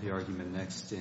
22713.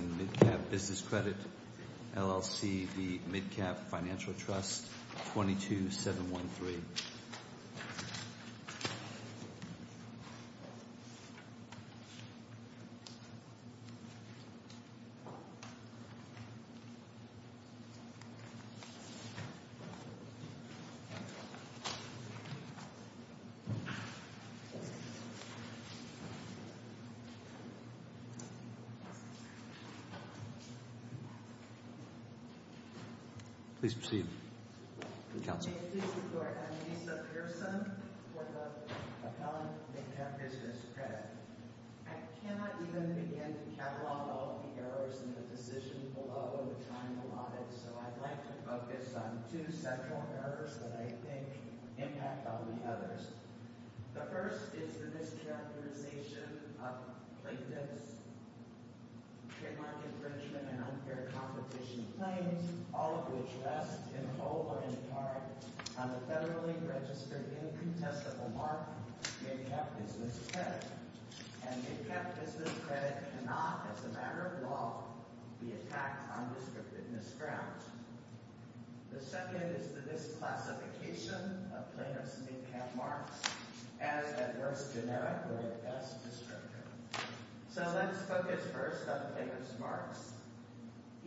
I cannot even begin to catalog all the errors in the decision below, which I'm allotted. So I'd like to focus on two central errors that I think impact on the others. The first is the mischaracterization of plaintiff's trademark infringement and unfair competition claims, all of which rest, in whole or in part, on the federally registered incontestable mark Midcap Business Credit. And Midcap Business Credit cannot, as a matter of law, be attacked on descriptiveness grounds. The second is the misclassification of plaintiff's Midcap marks as, at worst, generic or, at best, descriptive. So let's focus first on plaintiff's marks.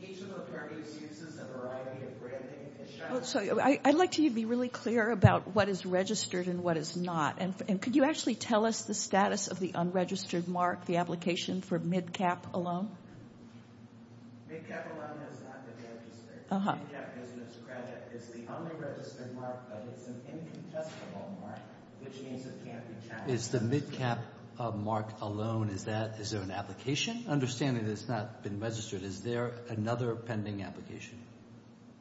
Each of the parties uses a variety of branding to show... I'd like to be really clear about what is registered and what is not. And could you actually tell us the status of the unregistered mark, the application for Midcap alone? Midcap alone has not been registered. Midcap Business Credit is the unregistered mark, but it's an incontestable mark, which means it can't be challenged. Is the Midcap mark alone, is there an application? Understanding that it's not been registered, is there another pending application?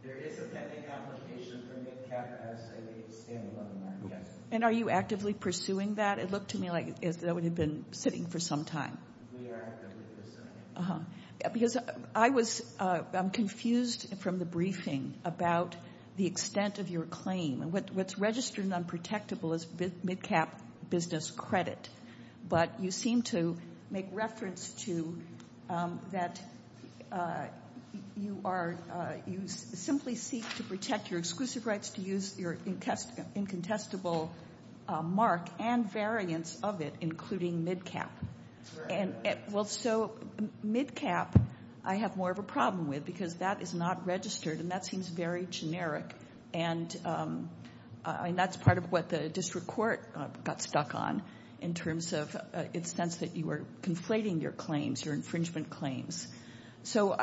There is a pending application for Midcap as a standalone mark, yes. And are you actively pursuing that? It looked to me like that would have been sitting for some time. Because I was confused from the briefing about the extent of your claim. What's registered and unprotectable is Midcap Business Credit, but you seem to make reference to that you simply seek to protect your exclusive rights to use your incontestable mark and variants of it, including Midcap. Well, so Midcap I have more of a problem with because that is not registered and that seems very generic. And that's part of what the district court got stuck on in terms of its sense that you were conflating your claims, your infringement claims. So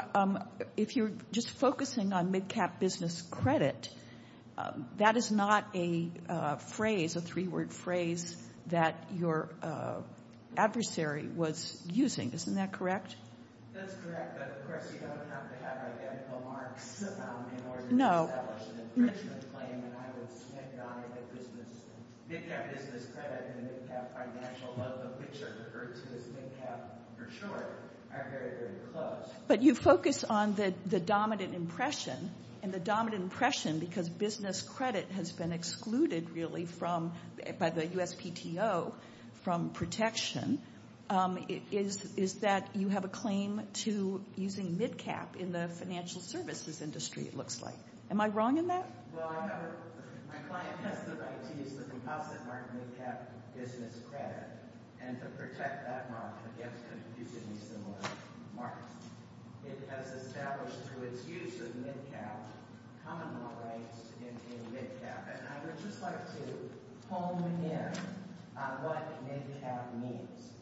if you're just focusing on Midcap Business Credit, that is not a phrase, a three-word phrase that your adversary was using. Isn't that correct? That's correct. But, of course, you don't have to have identical marks in order to establish an infringement claim. And I would stand on it that Midcap Business Credit and the Midcap Financial Loan, which are referred to as Midcap for short, are very, very close. But you focus on the dominant impression, and the dominant impression because business credit has been excluded really by the USPTO from protection, is that you have a claim to using Midcap in the financial services industry, it looks like. Am I wrong in that? Well, my client has the right to use the composite mark Midcap Business Credit, and to protect that mark against confusingly similar marks. It has established through its use of Midcap common law rights in Midcap. And I would just like to hone in on what Midcap means.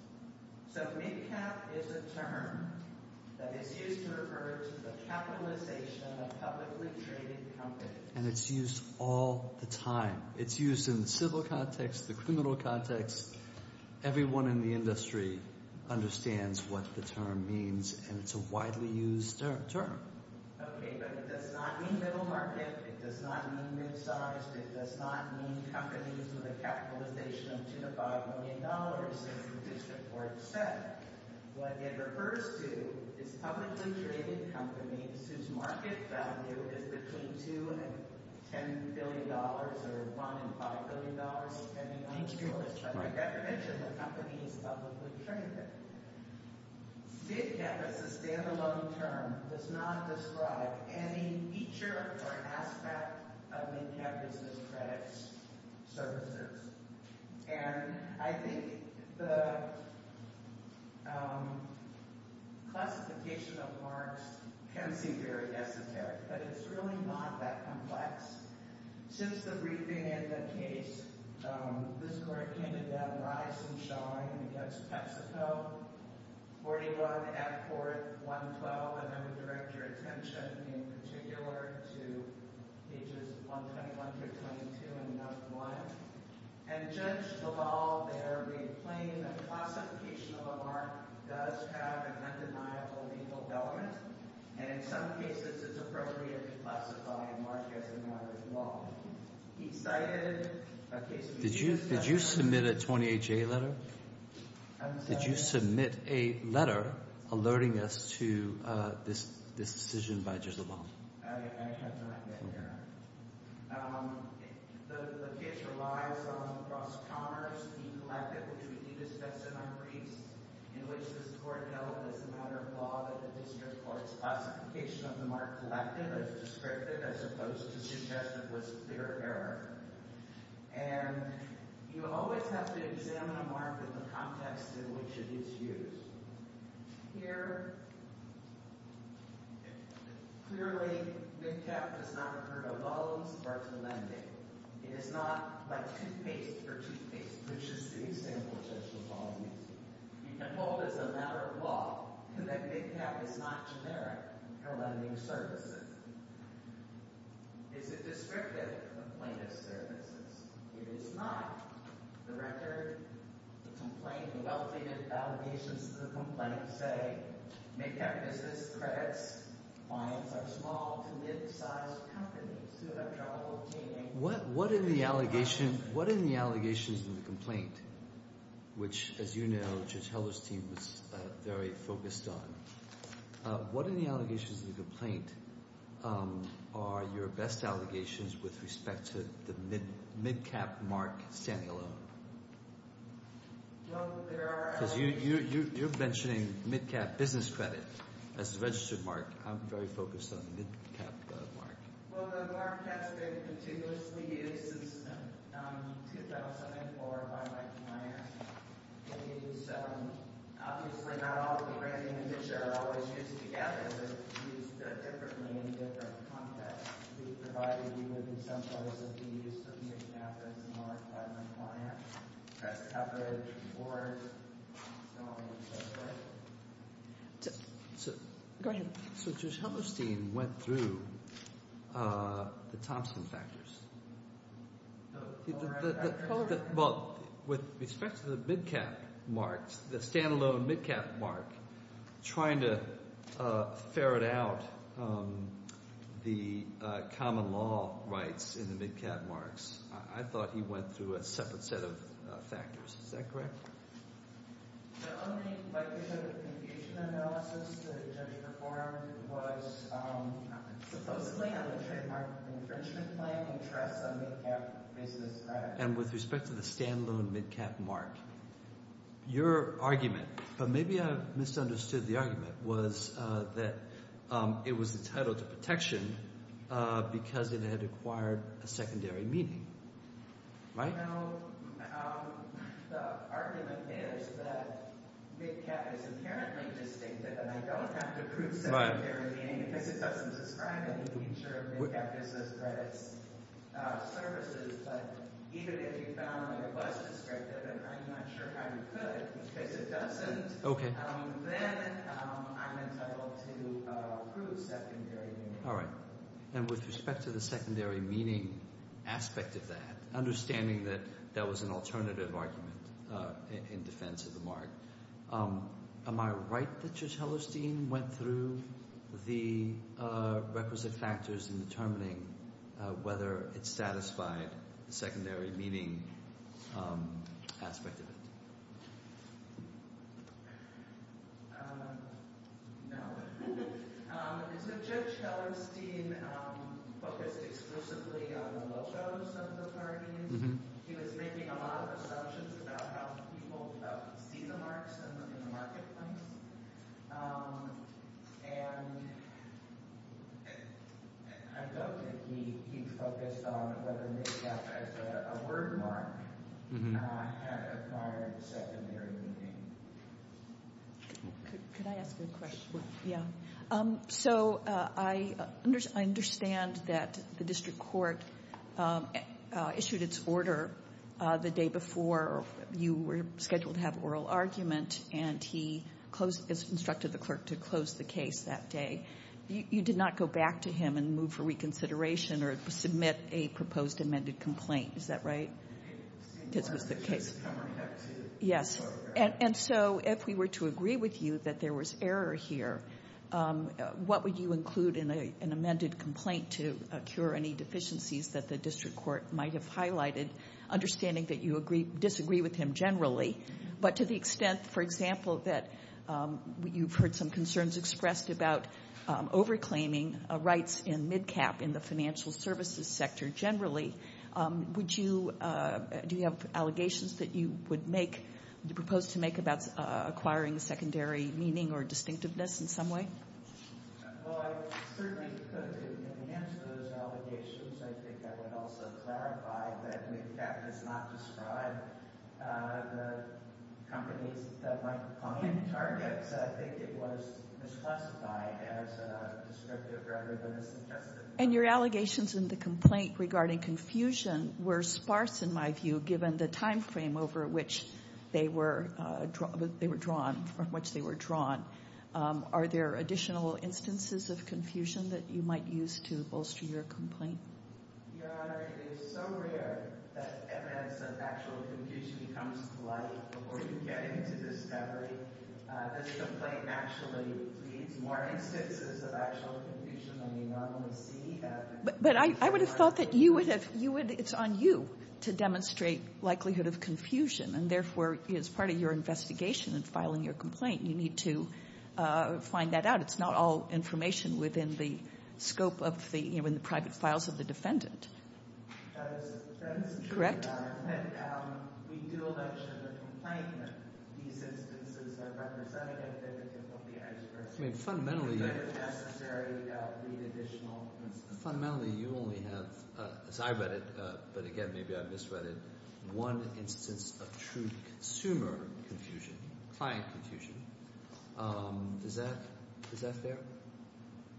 So Midcap is a term that is used to refer to the capitalization of publicly traded companies. And it's used all the time. It's used in the civil context, the criminal context. Everyone in the industry understands what the term means, and it's a widely used term. Okay, but it does not mean middle market. It does not mean midsize. It does not mean companies with a capitalization of $2 to $5 million in production or except. What it refers to is publicly traded companies whose market value is between $2 billion and $10 billion or $1 billion and $5 billion, depending on the interest. By definition, the company is publicly traded. Midcap is a standalone term. It does not describe any feature or aspect of Midcap Business Credit's services. And I think the classification of marks can seem very esoteric, but it's really not that complex. Since the briefing and the case, this court candidate rise and shine against PepsiCo, 41 at court, 112. And I would direct your attention in particular to pages 121 through 22 in note one. And Judge DeVall there replained that classification of a mark does have an undeniable legal element. And in some cases, it's appropriate to classify a mark as a matter of law. He cited a case. Did you submit a 28-J letter? I'm sorry? Did you submit a letter alerting us to this decision by Judge DeVall? I have not yet, Your Honor. The case relies on Ross Conner's e-collective, which we did discuss in our briefs, in which this court held it as a matter of law that the district court's classification of the mark collective as descriptive as opposed to suggestive was clear error. And you always have to examine a mark in the context in which it is used. Here, clearly, MidCap does not refer to loans or to lending. It is not like toothpaste for toothpaste, which is the example Judge DeVall used. You can hold as a matter of law that MidCap is not generic for lending services. Is it descriptive of plaintiff services? It is not. The record, the complaint, the elevated allegations of the complaint say, MidCap business credits clients are small to mid-sized companies who have trouble obtaining— What in the allegations in the complaint, which, as you know, Judge Heller's team was very focused on, What in the allegations of the complaint are your best allegations with respect to the MidCap mark standing alone? Well, there are— Because you're mentioning MidCap business credit as the registered mark. I'm very focused on the MidCap mark. Well, the mark has been meticulously used since 2004 by Mike Meyers. Obviously, not all the branding and picture are always used together. They're used differently in different contexts. We've provided you with, in some cases, the use of MidCap as the mark by the client, press coverage, awards, so on and so forth. Go ahead. So Judge Heller's team went through the Thompson factors. The Colorado factors? Well, with respect to the MidCap marks, the standalone MidCap mark, trying to ferret out the common law rights in the MidCap marks, I thought he went through a separate set of factors. Is that correct? The only, like you said, confusion analysis that the judge performed was supposedly a trademark infringement claim and trust on MidCap business credit. And with respect to the standalone MidCap mark, your argument, but maybe I misunderstood the argument, was that it was entitled to protection because it had acquired a secondary meaning. Right? Well, the argument is that MidCap is inherently distinctive, and I don't have to prove secondary meaning because it doesn't describe any feature of MidCap business credit services. But even if you found it was descriptive, and I'm not sure how you could because it doesn't, then I'm entitled to prove secondary meaning. All right. And with respect to the secondary meaning aspect of that, understanding that that was an alternative argument in defense of the mark, am I right that Judge Hellerstein went through the requisite factors in determining whether it satisfied the secondary meaning aspect of it? No. So Judge Hellerstein focused exclusively on the logos of the markings. He was making a lot of assumptions about how people see the marks in the marketplace. And I doubt that he focused on whether MidCap as a word mark had acquired secondary meaning. Could I ask a question? Yeah. So I understand that the district court issued its order the day before you were scheduled to have an oral argument, and he instructed the clerk to close the case that day. You did not go back to him and move for reconsideration or submit a proposed amended complaint. Is that right? This was the case. Yes. And so if we were to agree with you that there was error here, what would you include in an amended complaint to cure any deficiencies that the district court might have highlighted, understanding that you disagree with him generally, but to the extent, for example, that you've heard some concerns expressed about over-claiming rights in MidCap in the financial services sector generally, do you have allegations that you would propose to make about acquiring secondary meaning or distinctiveness in some way? Well, I certainly could. In the answer to those allegations, I think I would also clarify that MidCap does not describe the companies that my client targets. I think it was misclassified as descriptive rather than as suggestive. And your allegations in the complaint regarding confusion were sparse, in my view, given the time frame over which they were drawn, from which they were drawn. Are there additional instances of confusion that you might use to bolster your complaint? Your Honor, it is so rare that evidence of actual confusion becomes polite before you get into discovery. This complaint actually creates more instances of actual confusion than you normally see. But I would have thought that you would have ‑‑ it's on you to demonstrate likelihood of confusion, and therefore as part of your investigation in filing your complaint, you need to find that out. It's not all information within the scope of the ‑‑ you know, in the private files of the defendant. That is true, Your Honor. Correct. We do allege in the complaint that these instances are representative of the United States. Fundamentally, you only have, as I read it, but again, maybe I misread it, one instance of true consumer confusion, client confusion. Is that fair?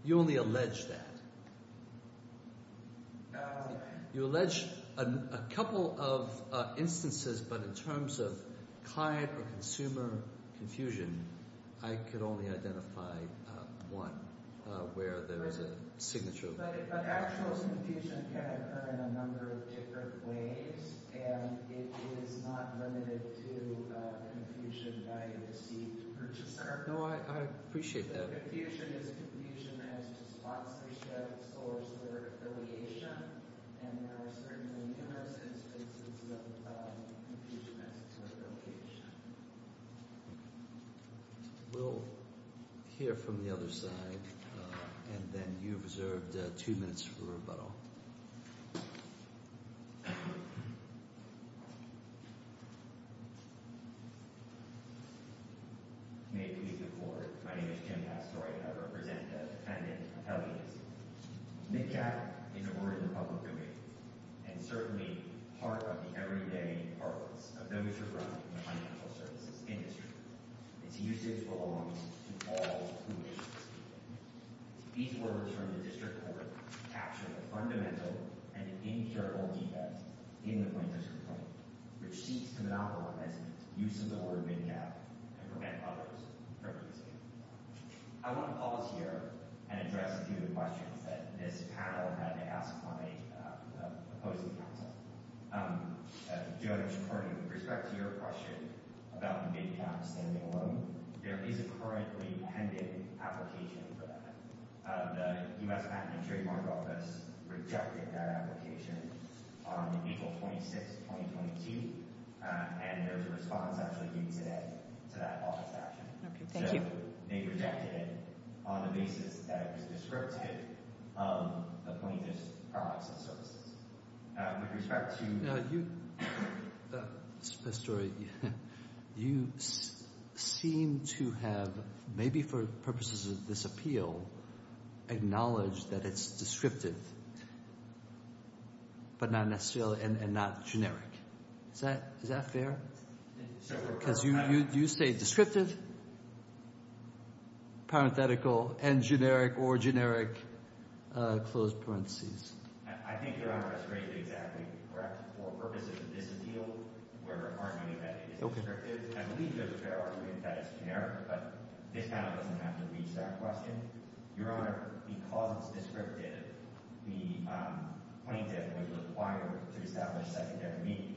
You only allege that. You allege a couple of instances, but in terms of client or consumer confusion, I could only identify one where there is a signature. But actual confusion can occur in a number of different ways, and it is not limited to confusion by a deceived purchaser. No, I appreciate that. Confusion is confusion as to sponsorship, source, or affiliation, and there are certainly numerous instances of confusion as to affiliation. We'll hear from the other side, and then you have reserved two minutes for rebuttal. May it please the Court. My name is Jim Asteroid, and I represent the defendant, Apelles. NCAC is a word in the public domain, and certainly part of the everyday arguments of those who run the financial services industry. Its usage belongs to all who wish to speak it. These words from the District Court capture a fundamental and incurable defense in the plaintiff's complaint, which seeks to monopolize the use of the word mid-cap and prevent others from using it. I want to pause here and address a few of the questions that this panel had to ask upon a opposing counsel. Joe, according with respect to your question about the mid-cap standing alone, there is a currently pending application for that. The U.S. Patent and Trademark Office rejected that application on April 26, 2022, and there's a response actually due today to that office action. Okay, thank you. So they rejected it on the basis that it was descriptive of the plaintiff's products and services. With respect to the story, you seem to have, maybe for purposes of this appeal, acknowledged that it's descriptive but not necessarily and not generic. Is that fair? Because you say descriptive, parenthetical, and generic or generic, closed parentheses. I think Your Honor is greatly exactly correct. For purposes of this appeal, we're arguing that it is descriptive. I believe there's a fair argument that it's generic, but this panel doesn't have to reach that question. Your Honor, because it's descriptive, the plaintiff was required to establish secondary meaning.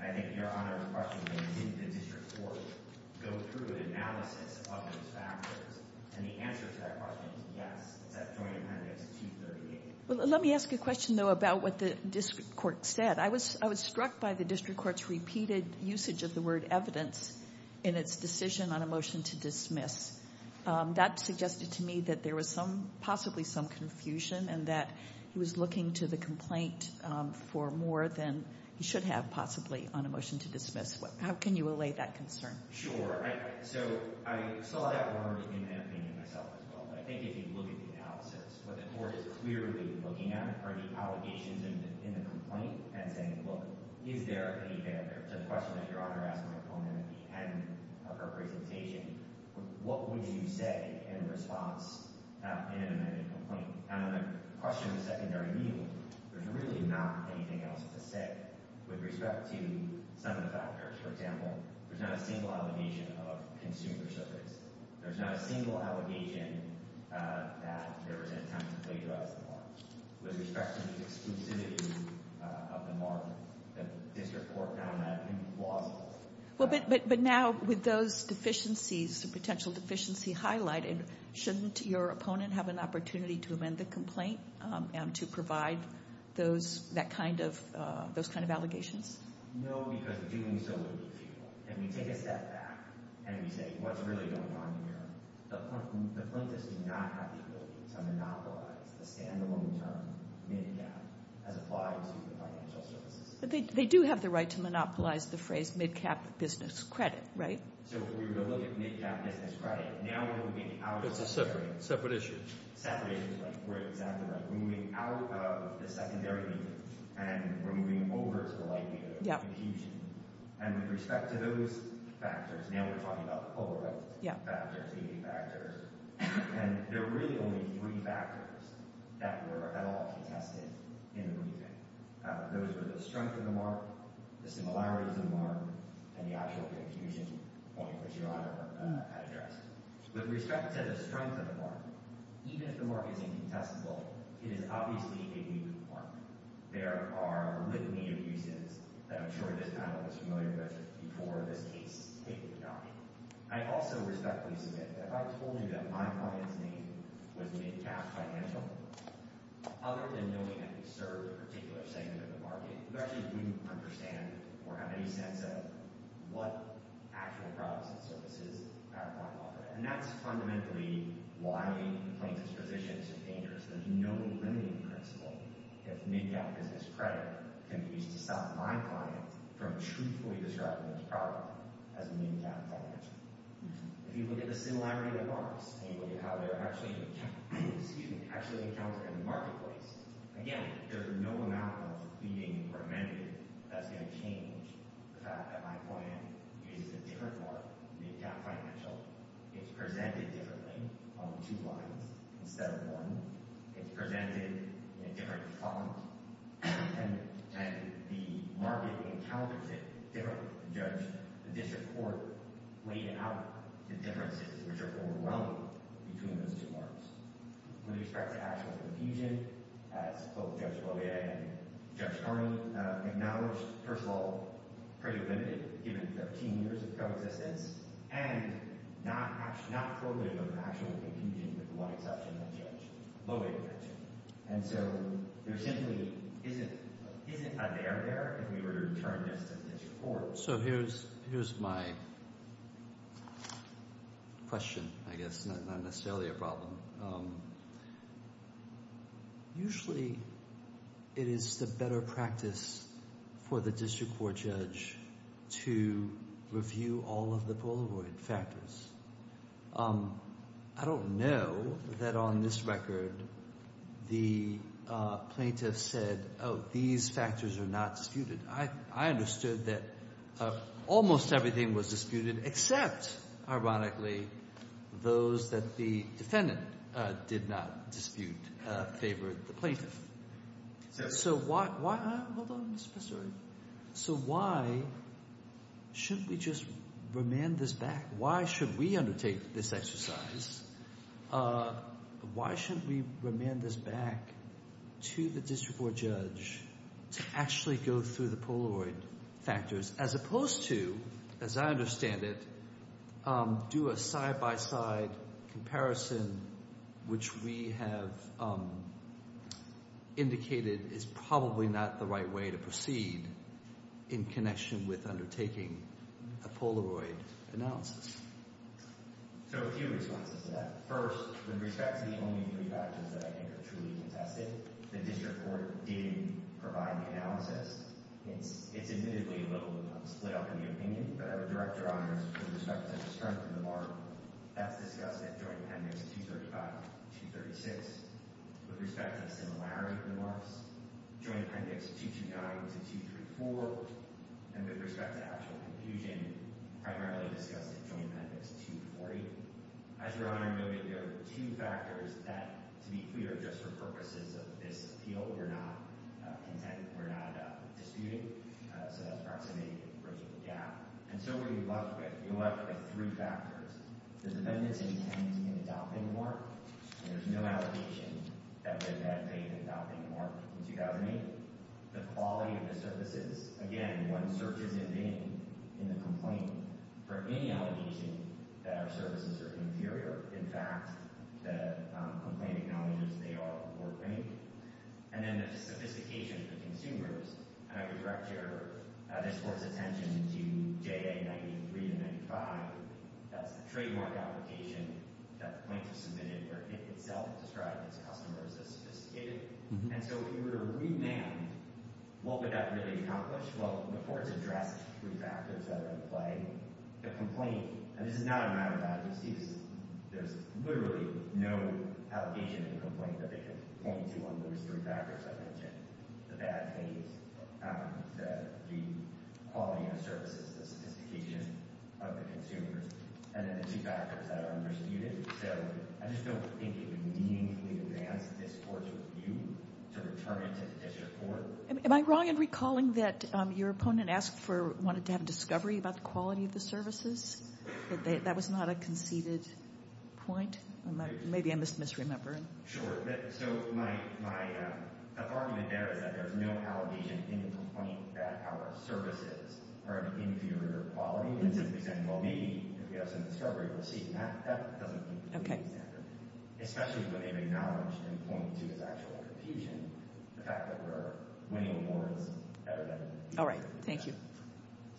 And I think Your Honor, the question is, did the district court go through an analysis of those factors? And the answer to that question is yes, except joint appendix 238. Let me ask a question, though, about what the district court said. I was struck by the district court's repeated usage of the word evidence in its decision on a motion to dismiss. That suggested to me that there was possibly some confusion and that he was looking to the complaint for more than he should have possibly on a motion to dismiss. How can you allay that concern? Sure. So I saw that word in that opinion myself as well. I think if you look at the analysis, what the court is clearly looking at are the allegations in the complaint and saying, look, is there any factor? It's a question that Your Honor asked my opponent at the end of her presentation. What would you say in response in an amended complaint? And on the question of secondary meaning, there's really not anything else to say with respect to some of the factors. For example, there's not a single allegation of consumer service. There's not a single allegation that there was an attempt to plagiarize the market. With respect to the exclusivity of the market, the district court found that implausible. But now with those deficiencies, the potential deficiency highlighted, shouldn't your opponent have an opportunity to amend the complaint and to provide those kind of allegations? No, because doing so would be futile. And we take a step back and we say, what's really going on here? The plaintiffs do not have the ability to monopolize the stand-alone term mid-cap as applied to the financial services. But they do have the right to monopolize the phrase mid-cap business credit, right? So if we were to look at mid-cap business credit, now we're moving out of the secondary. It's a separate issue. Separate. We're exactly right. We're moving out of the secondary meaning and we're moving over to the likelihood of confusion. And with respect to those factors, now we're talking about the Polaroid factors, the eight factors, and there were really only three factors that were at all contested in the briefing. Those were the strength of the mark, the similarities of the mark, and the actual confusion point, which Your Honor had addressed. With respect to the strength of the mark, even if the mark is incontestable, it is obviously a new mark. There are a litany of uses that I'm sure this panel is familiar with before this case. I also respectfully submit that if I told you that my client's name was mid-cap financial, other than knowing that he served a particular segment of the market, you actually wouldn't understand or have any sense of what actual products and services our client offered. And that's fundamentally why the plaintiff's position is so dangerous. There's no limiting principle if mid-cap business credit can be used to stop my client from truthfully describing his product as mid-cap financial. If you look at the similarity of the marks and you look at how they're actually encountered in the marketplace, again, there's no amount of pleading or amending that's going to change the fact that my client uses a different mark, mid-cap financial. It's presented differently on two lines instead of one. It's presented in a different font, and the market encounters it differently. The district court weighed out the differences, which are overwhelming, between those two marks. With respect to actual confusion, as both Judge Lohier and Judge Carney acknowledged, first of all, pretty limited, given 13 years of coexistence, and not prohibitive of actual confusion with the one exception of Judge Lohier. And so there simply isn't a dare there if we were to return this to the district court. So here's my question, I guess. Not necessarily a problem. Usually it is the better practice for the district court judge to review all of the Polaroid factors. I don't know that on this record the plaintiff said, oh, these factors are not disputed. I understood that almost everything was disputed except, ironically, those that the defendant did not dispute favored the plaintiff. So why should we just remand this back? Why should we undertake this exercise? Why should we remand this back to the district court judge to actually go through the Polaroid factors, as opposed to, as I understand it, do a side-by-side comparison, which we have indicated is probably not the right way to proceed in connection with undertaking a Polaroid analysis? So a few responses to that. First, with respect to the only three factors that I think are truly contested, the district court did provide the analysis. It's admittedly a little split up in the opinion, but our director honors, with respect to the strength of the mark, that's discussed at Joint Appendix 235 and 236. With respect to the similarity of the marks, Joint Appendix 229 to 234. And with respect to actual confusion, primarily discussed at Joint Appendix 240. As your Honor noted, there are two factors that, to be clear, just for purposes of this appeal, we're not content, we're not disputing. So that's proximity to the original gap. And so what are you left with? You're left with three factors. The defendant's intent in adopting the mark. There's no allegation that the defendant made in adopting the mark in 2008. The quality of the services. Again, one searches in vain in the complaint for any allegation that our services are inferior. In fact, the complaint acknowledges they are more quaint. And then the sophistication of the consumers. And I would direct this court's attention to JA 93 and 95. That's the trademark application that the plaintiff submitted where it itself described its customers as sophisticated. And so if you were to remand, what would that really accomplish? Well, the court's addressed three factors that are in play. The complaint. And this is not a matter of advocacy. There's literally no allegation in the complaint that they complained to on those three factors I mentioned. The bad taste. The quality of services. The sophistication of the consumers. And then the two factors that are undisputed. So I just don't think it would meaningfully advance this court's view to return it to the district court. Am I wrong in recalling that your opponent asked for or wanted to have a discovery about the quality of the services? That that was not a conceded point? Maybe I'm just misremembering. Sure. So my argument there is that there's no allegation in the complaint that our services are of inferior quality. Well, maybe if we have some discovery, we'll see. That doesn't seem to be a standard. Especially when they've acknowledged and pointed to this actual confusion, the fact that we're winning awards every day. All right. Thank you.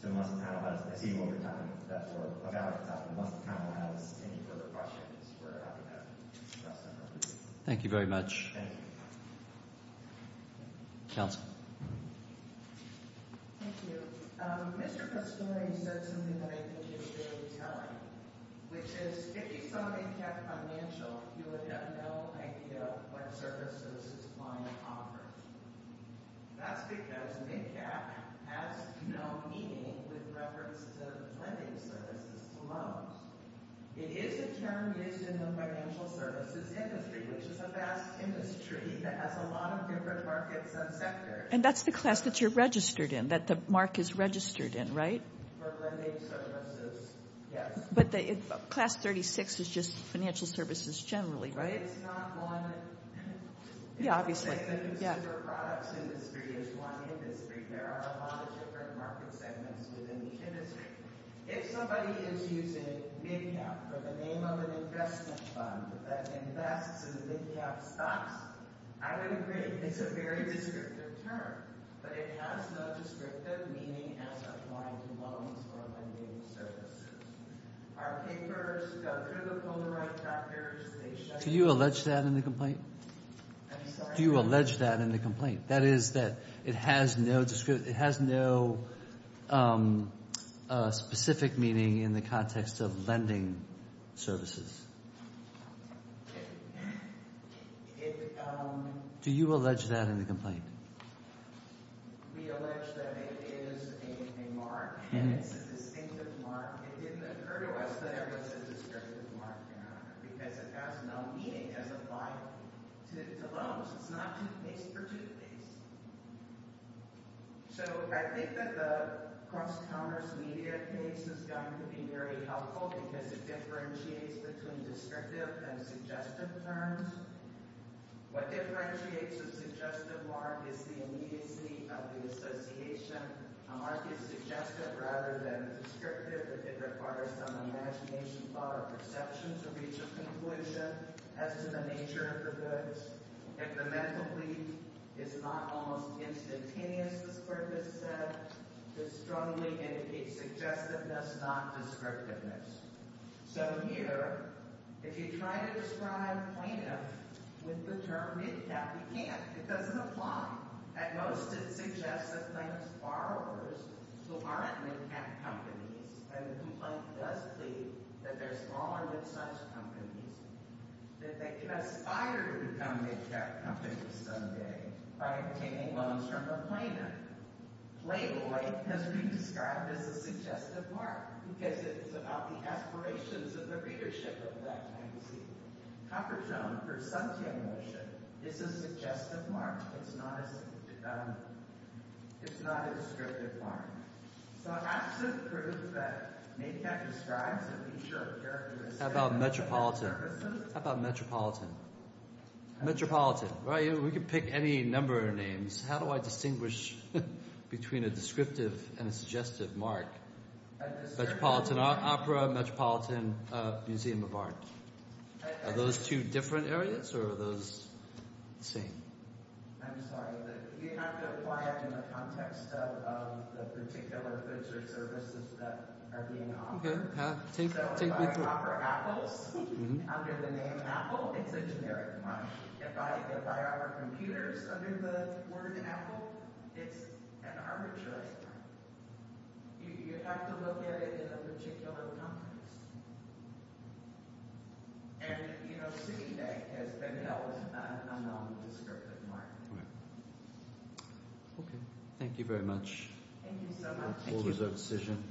So unless the panel has any further questions, we're happy to address them. Thank you very much. Counsel. Thank you. Mr. Pastore said something that I think is very telling, which is if you saw MidCap Financial, you would have no idea what services this client offers. That's because MidCap has no meaning with reference to lending services to loans. It is a term used in the financial services industry, which is a vast industry that has a lot of different markets and sectors. And that's the class that you're registered in, that the mark is registered in, right? For lending services, yes. But Class 36 is just financial services generally, right? It's not one. Yeah, obviously. The consumer products industry is one industry. There are a lot of different market segments within each industry. If somebody is using MidCap for the name of an investment fund that invests in MidCap stocks, I would agree. It's a very descriptive term, but it has no descriptive meaning as applying to loans or lending services. Our papers go through the Polaroid factors. Can you allege that in the complaint? I'm sorry? Do you allege that in the complaint? That is that it has no specific meaning in the context of lending services. Do you allege that in the complaint? We allege that it is a mark, and it's a distinctive mark. It didn't occur to us that it was a descriptive mark, because it has no meaning as applied to loans. It's not toothpaste for toothpaste. So I think that the cross-counters media case is going to be very helpful because it differentiates between descriptive and suggestive terms. What differentiates a suggestive mark is the immediacy of the association. A mark is suggestive rather than descriptive if it requires some imagination or perception to reach a conclusion as to the nature of the goods. If the mental bleed is not almost instantaneous, as Curtis said, it strongly indicates suggestiveness, not descriptiveness. So here, if you try to describe plaintiff with the term mid-cap, you can't. It doesn't apply. At most, it suggests that plaintiff's borrowers, who aren't mid-cap companies, and the complaint does plead that they're smaller mid-size companies, that they can aspire to become mid-cap companies someday by obtaining loans from the plaintiff. Playboy has been described as a suggestive mark, because it's about the aspirations of the readership of that magazine. Coppertone, for suntan lotion, is a suggestive mark. It's not a descriptive mark. How about metropolitan? How about metropolitan? Metropolitan. We can pick any number of names. How do I distinguish between a descriptive and a suggestive mark? Metropolitan opera, metropolitan museum of art. Are those two different areas, or are those the same? I'm sorry, but you have to apply it in the context of the particular goods or services that are being offered. So if I offer apples under the name apple, it's a generic mark. If I offer computers under the word apple, it's an arbitrary mark. You have to look at it in a particular context. And Citibank has been held a non-descriptive mark. Okay. Thank you very much. Thank you so much. That was our decision.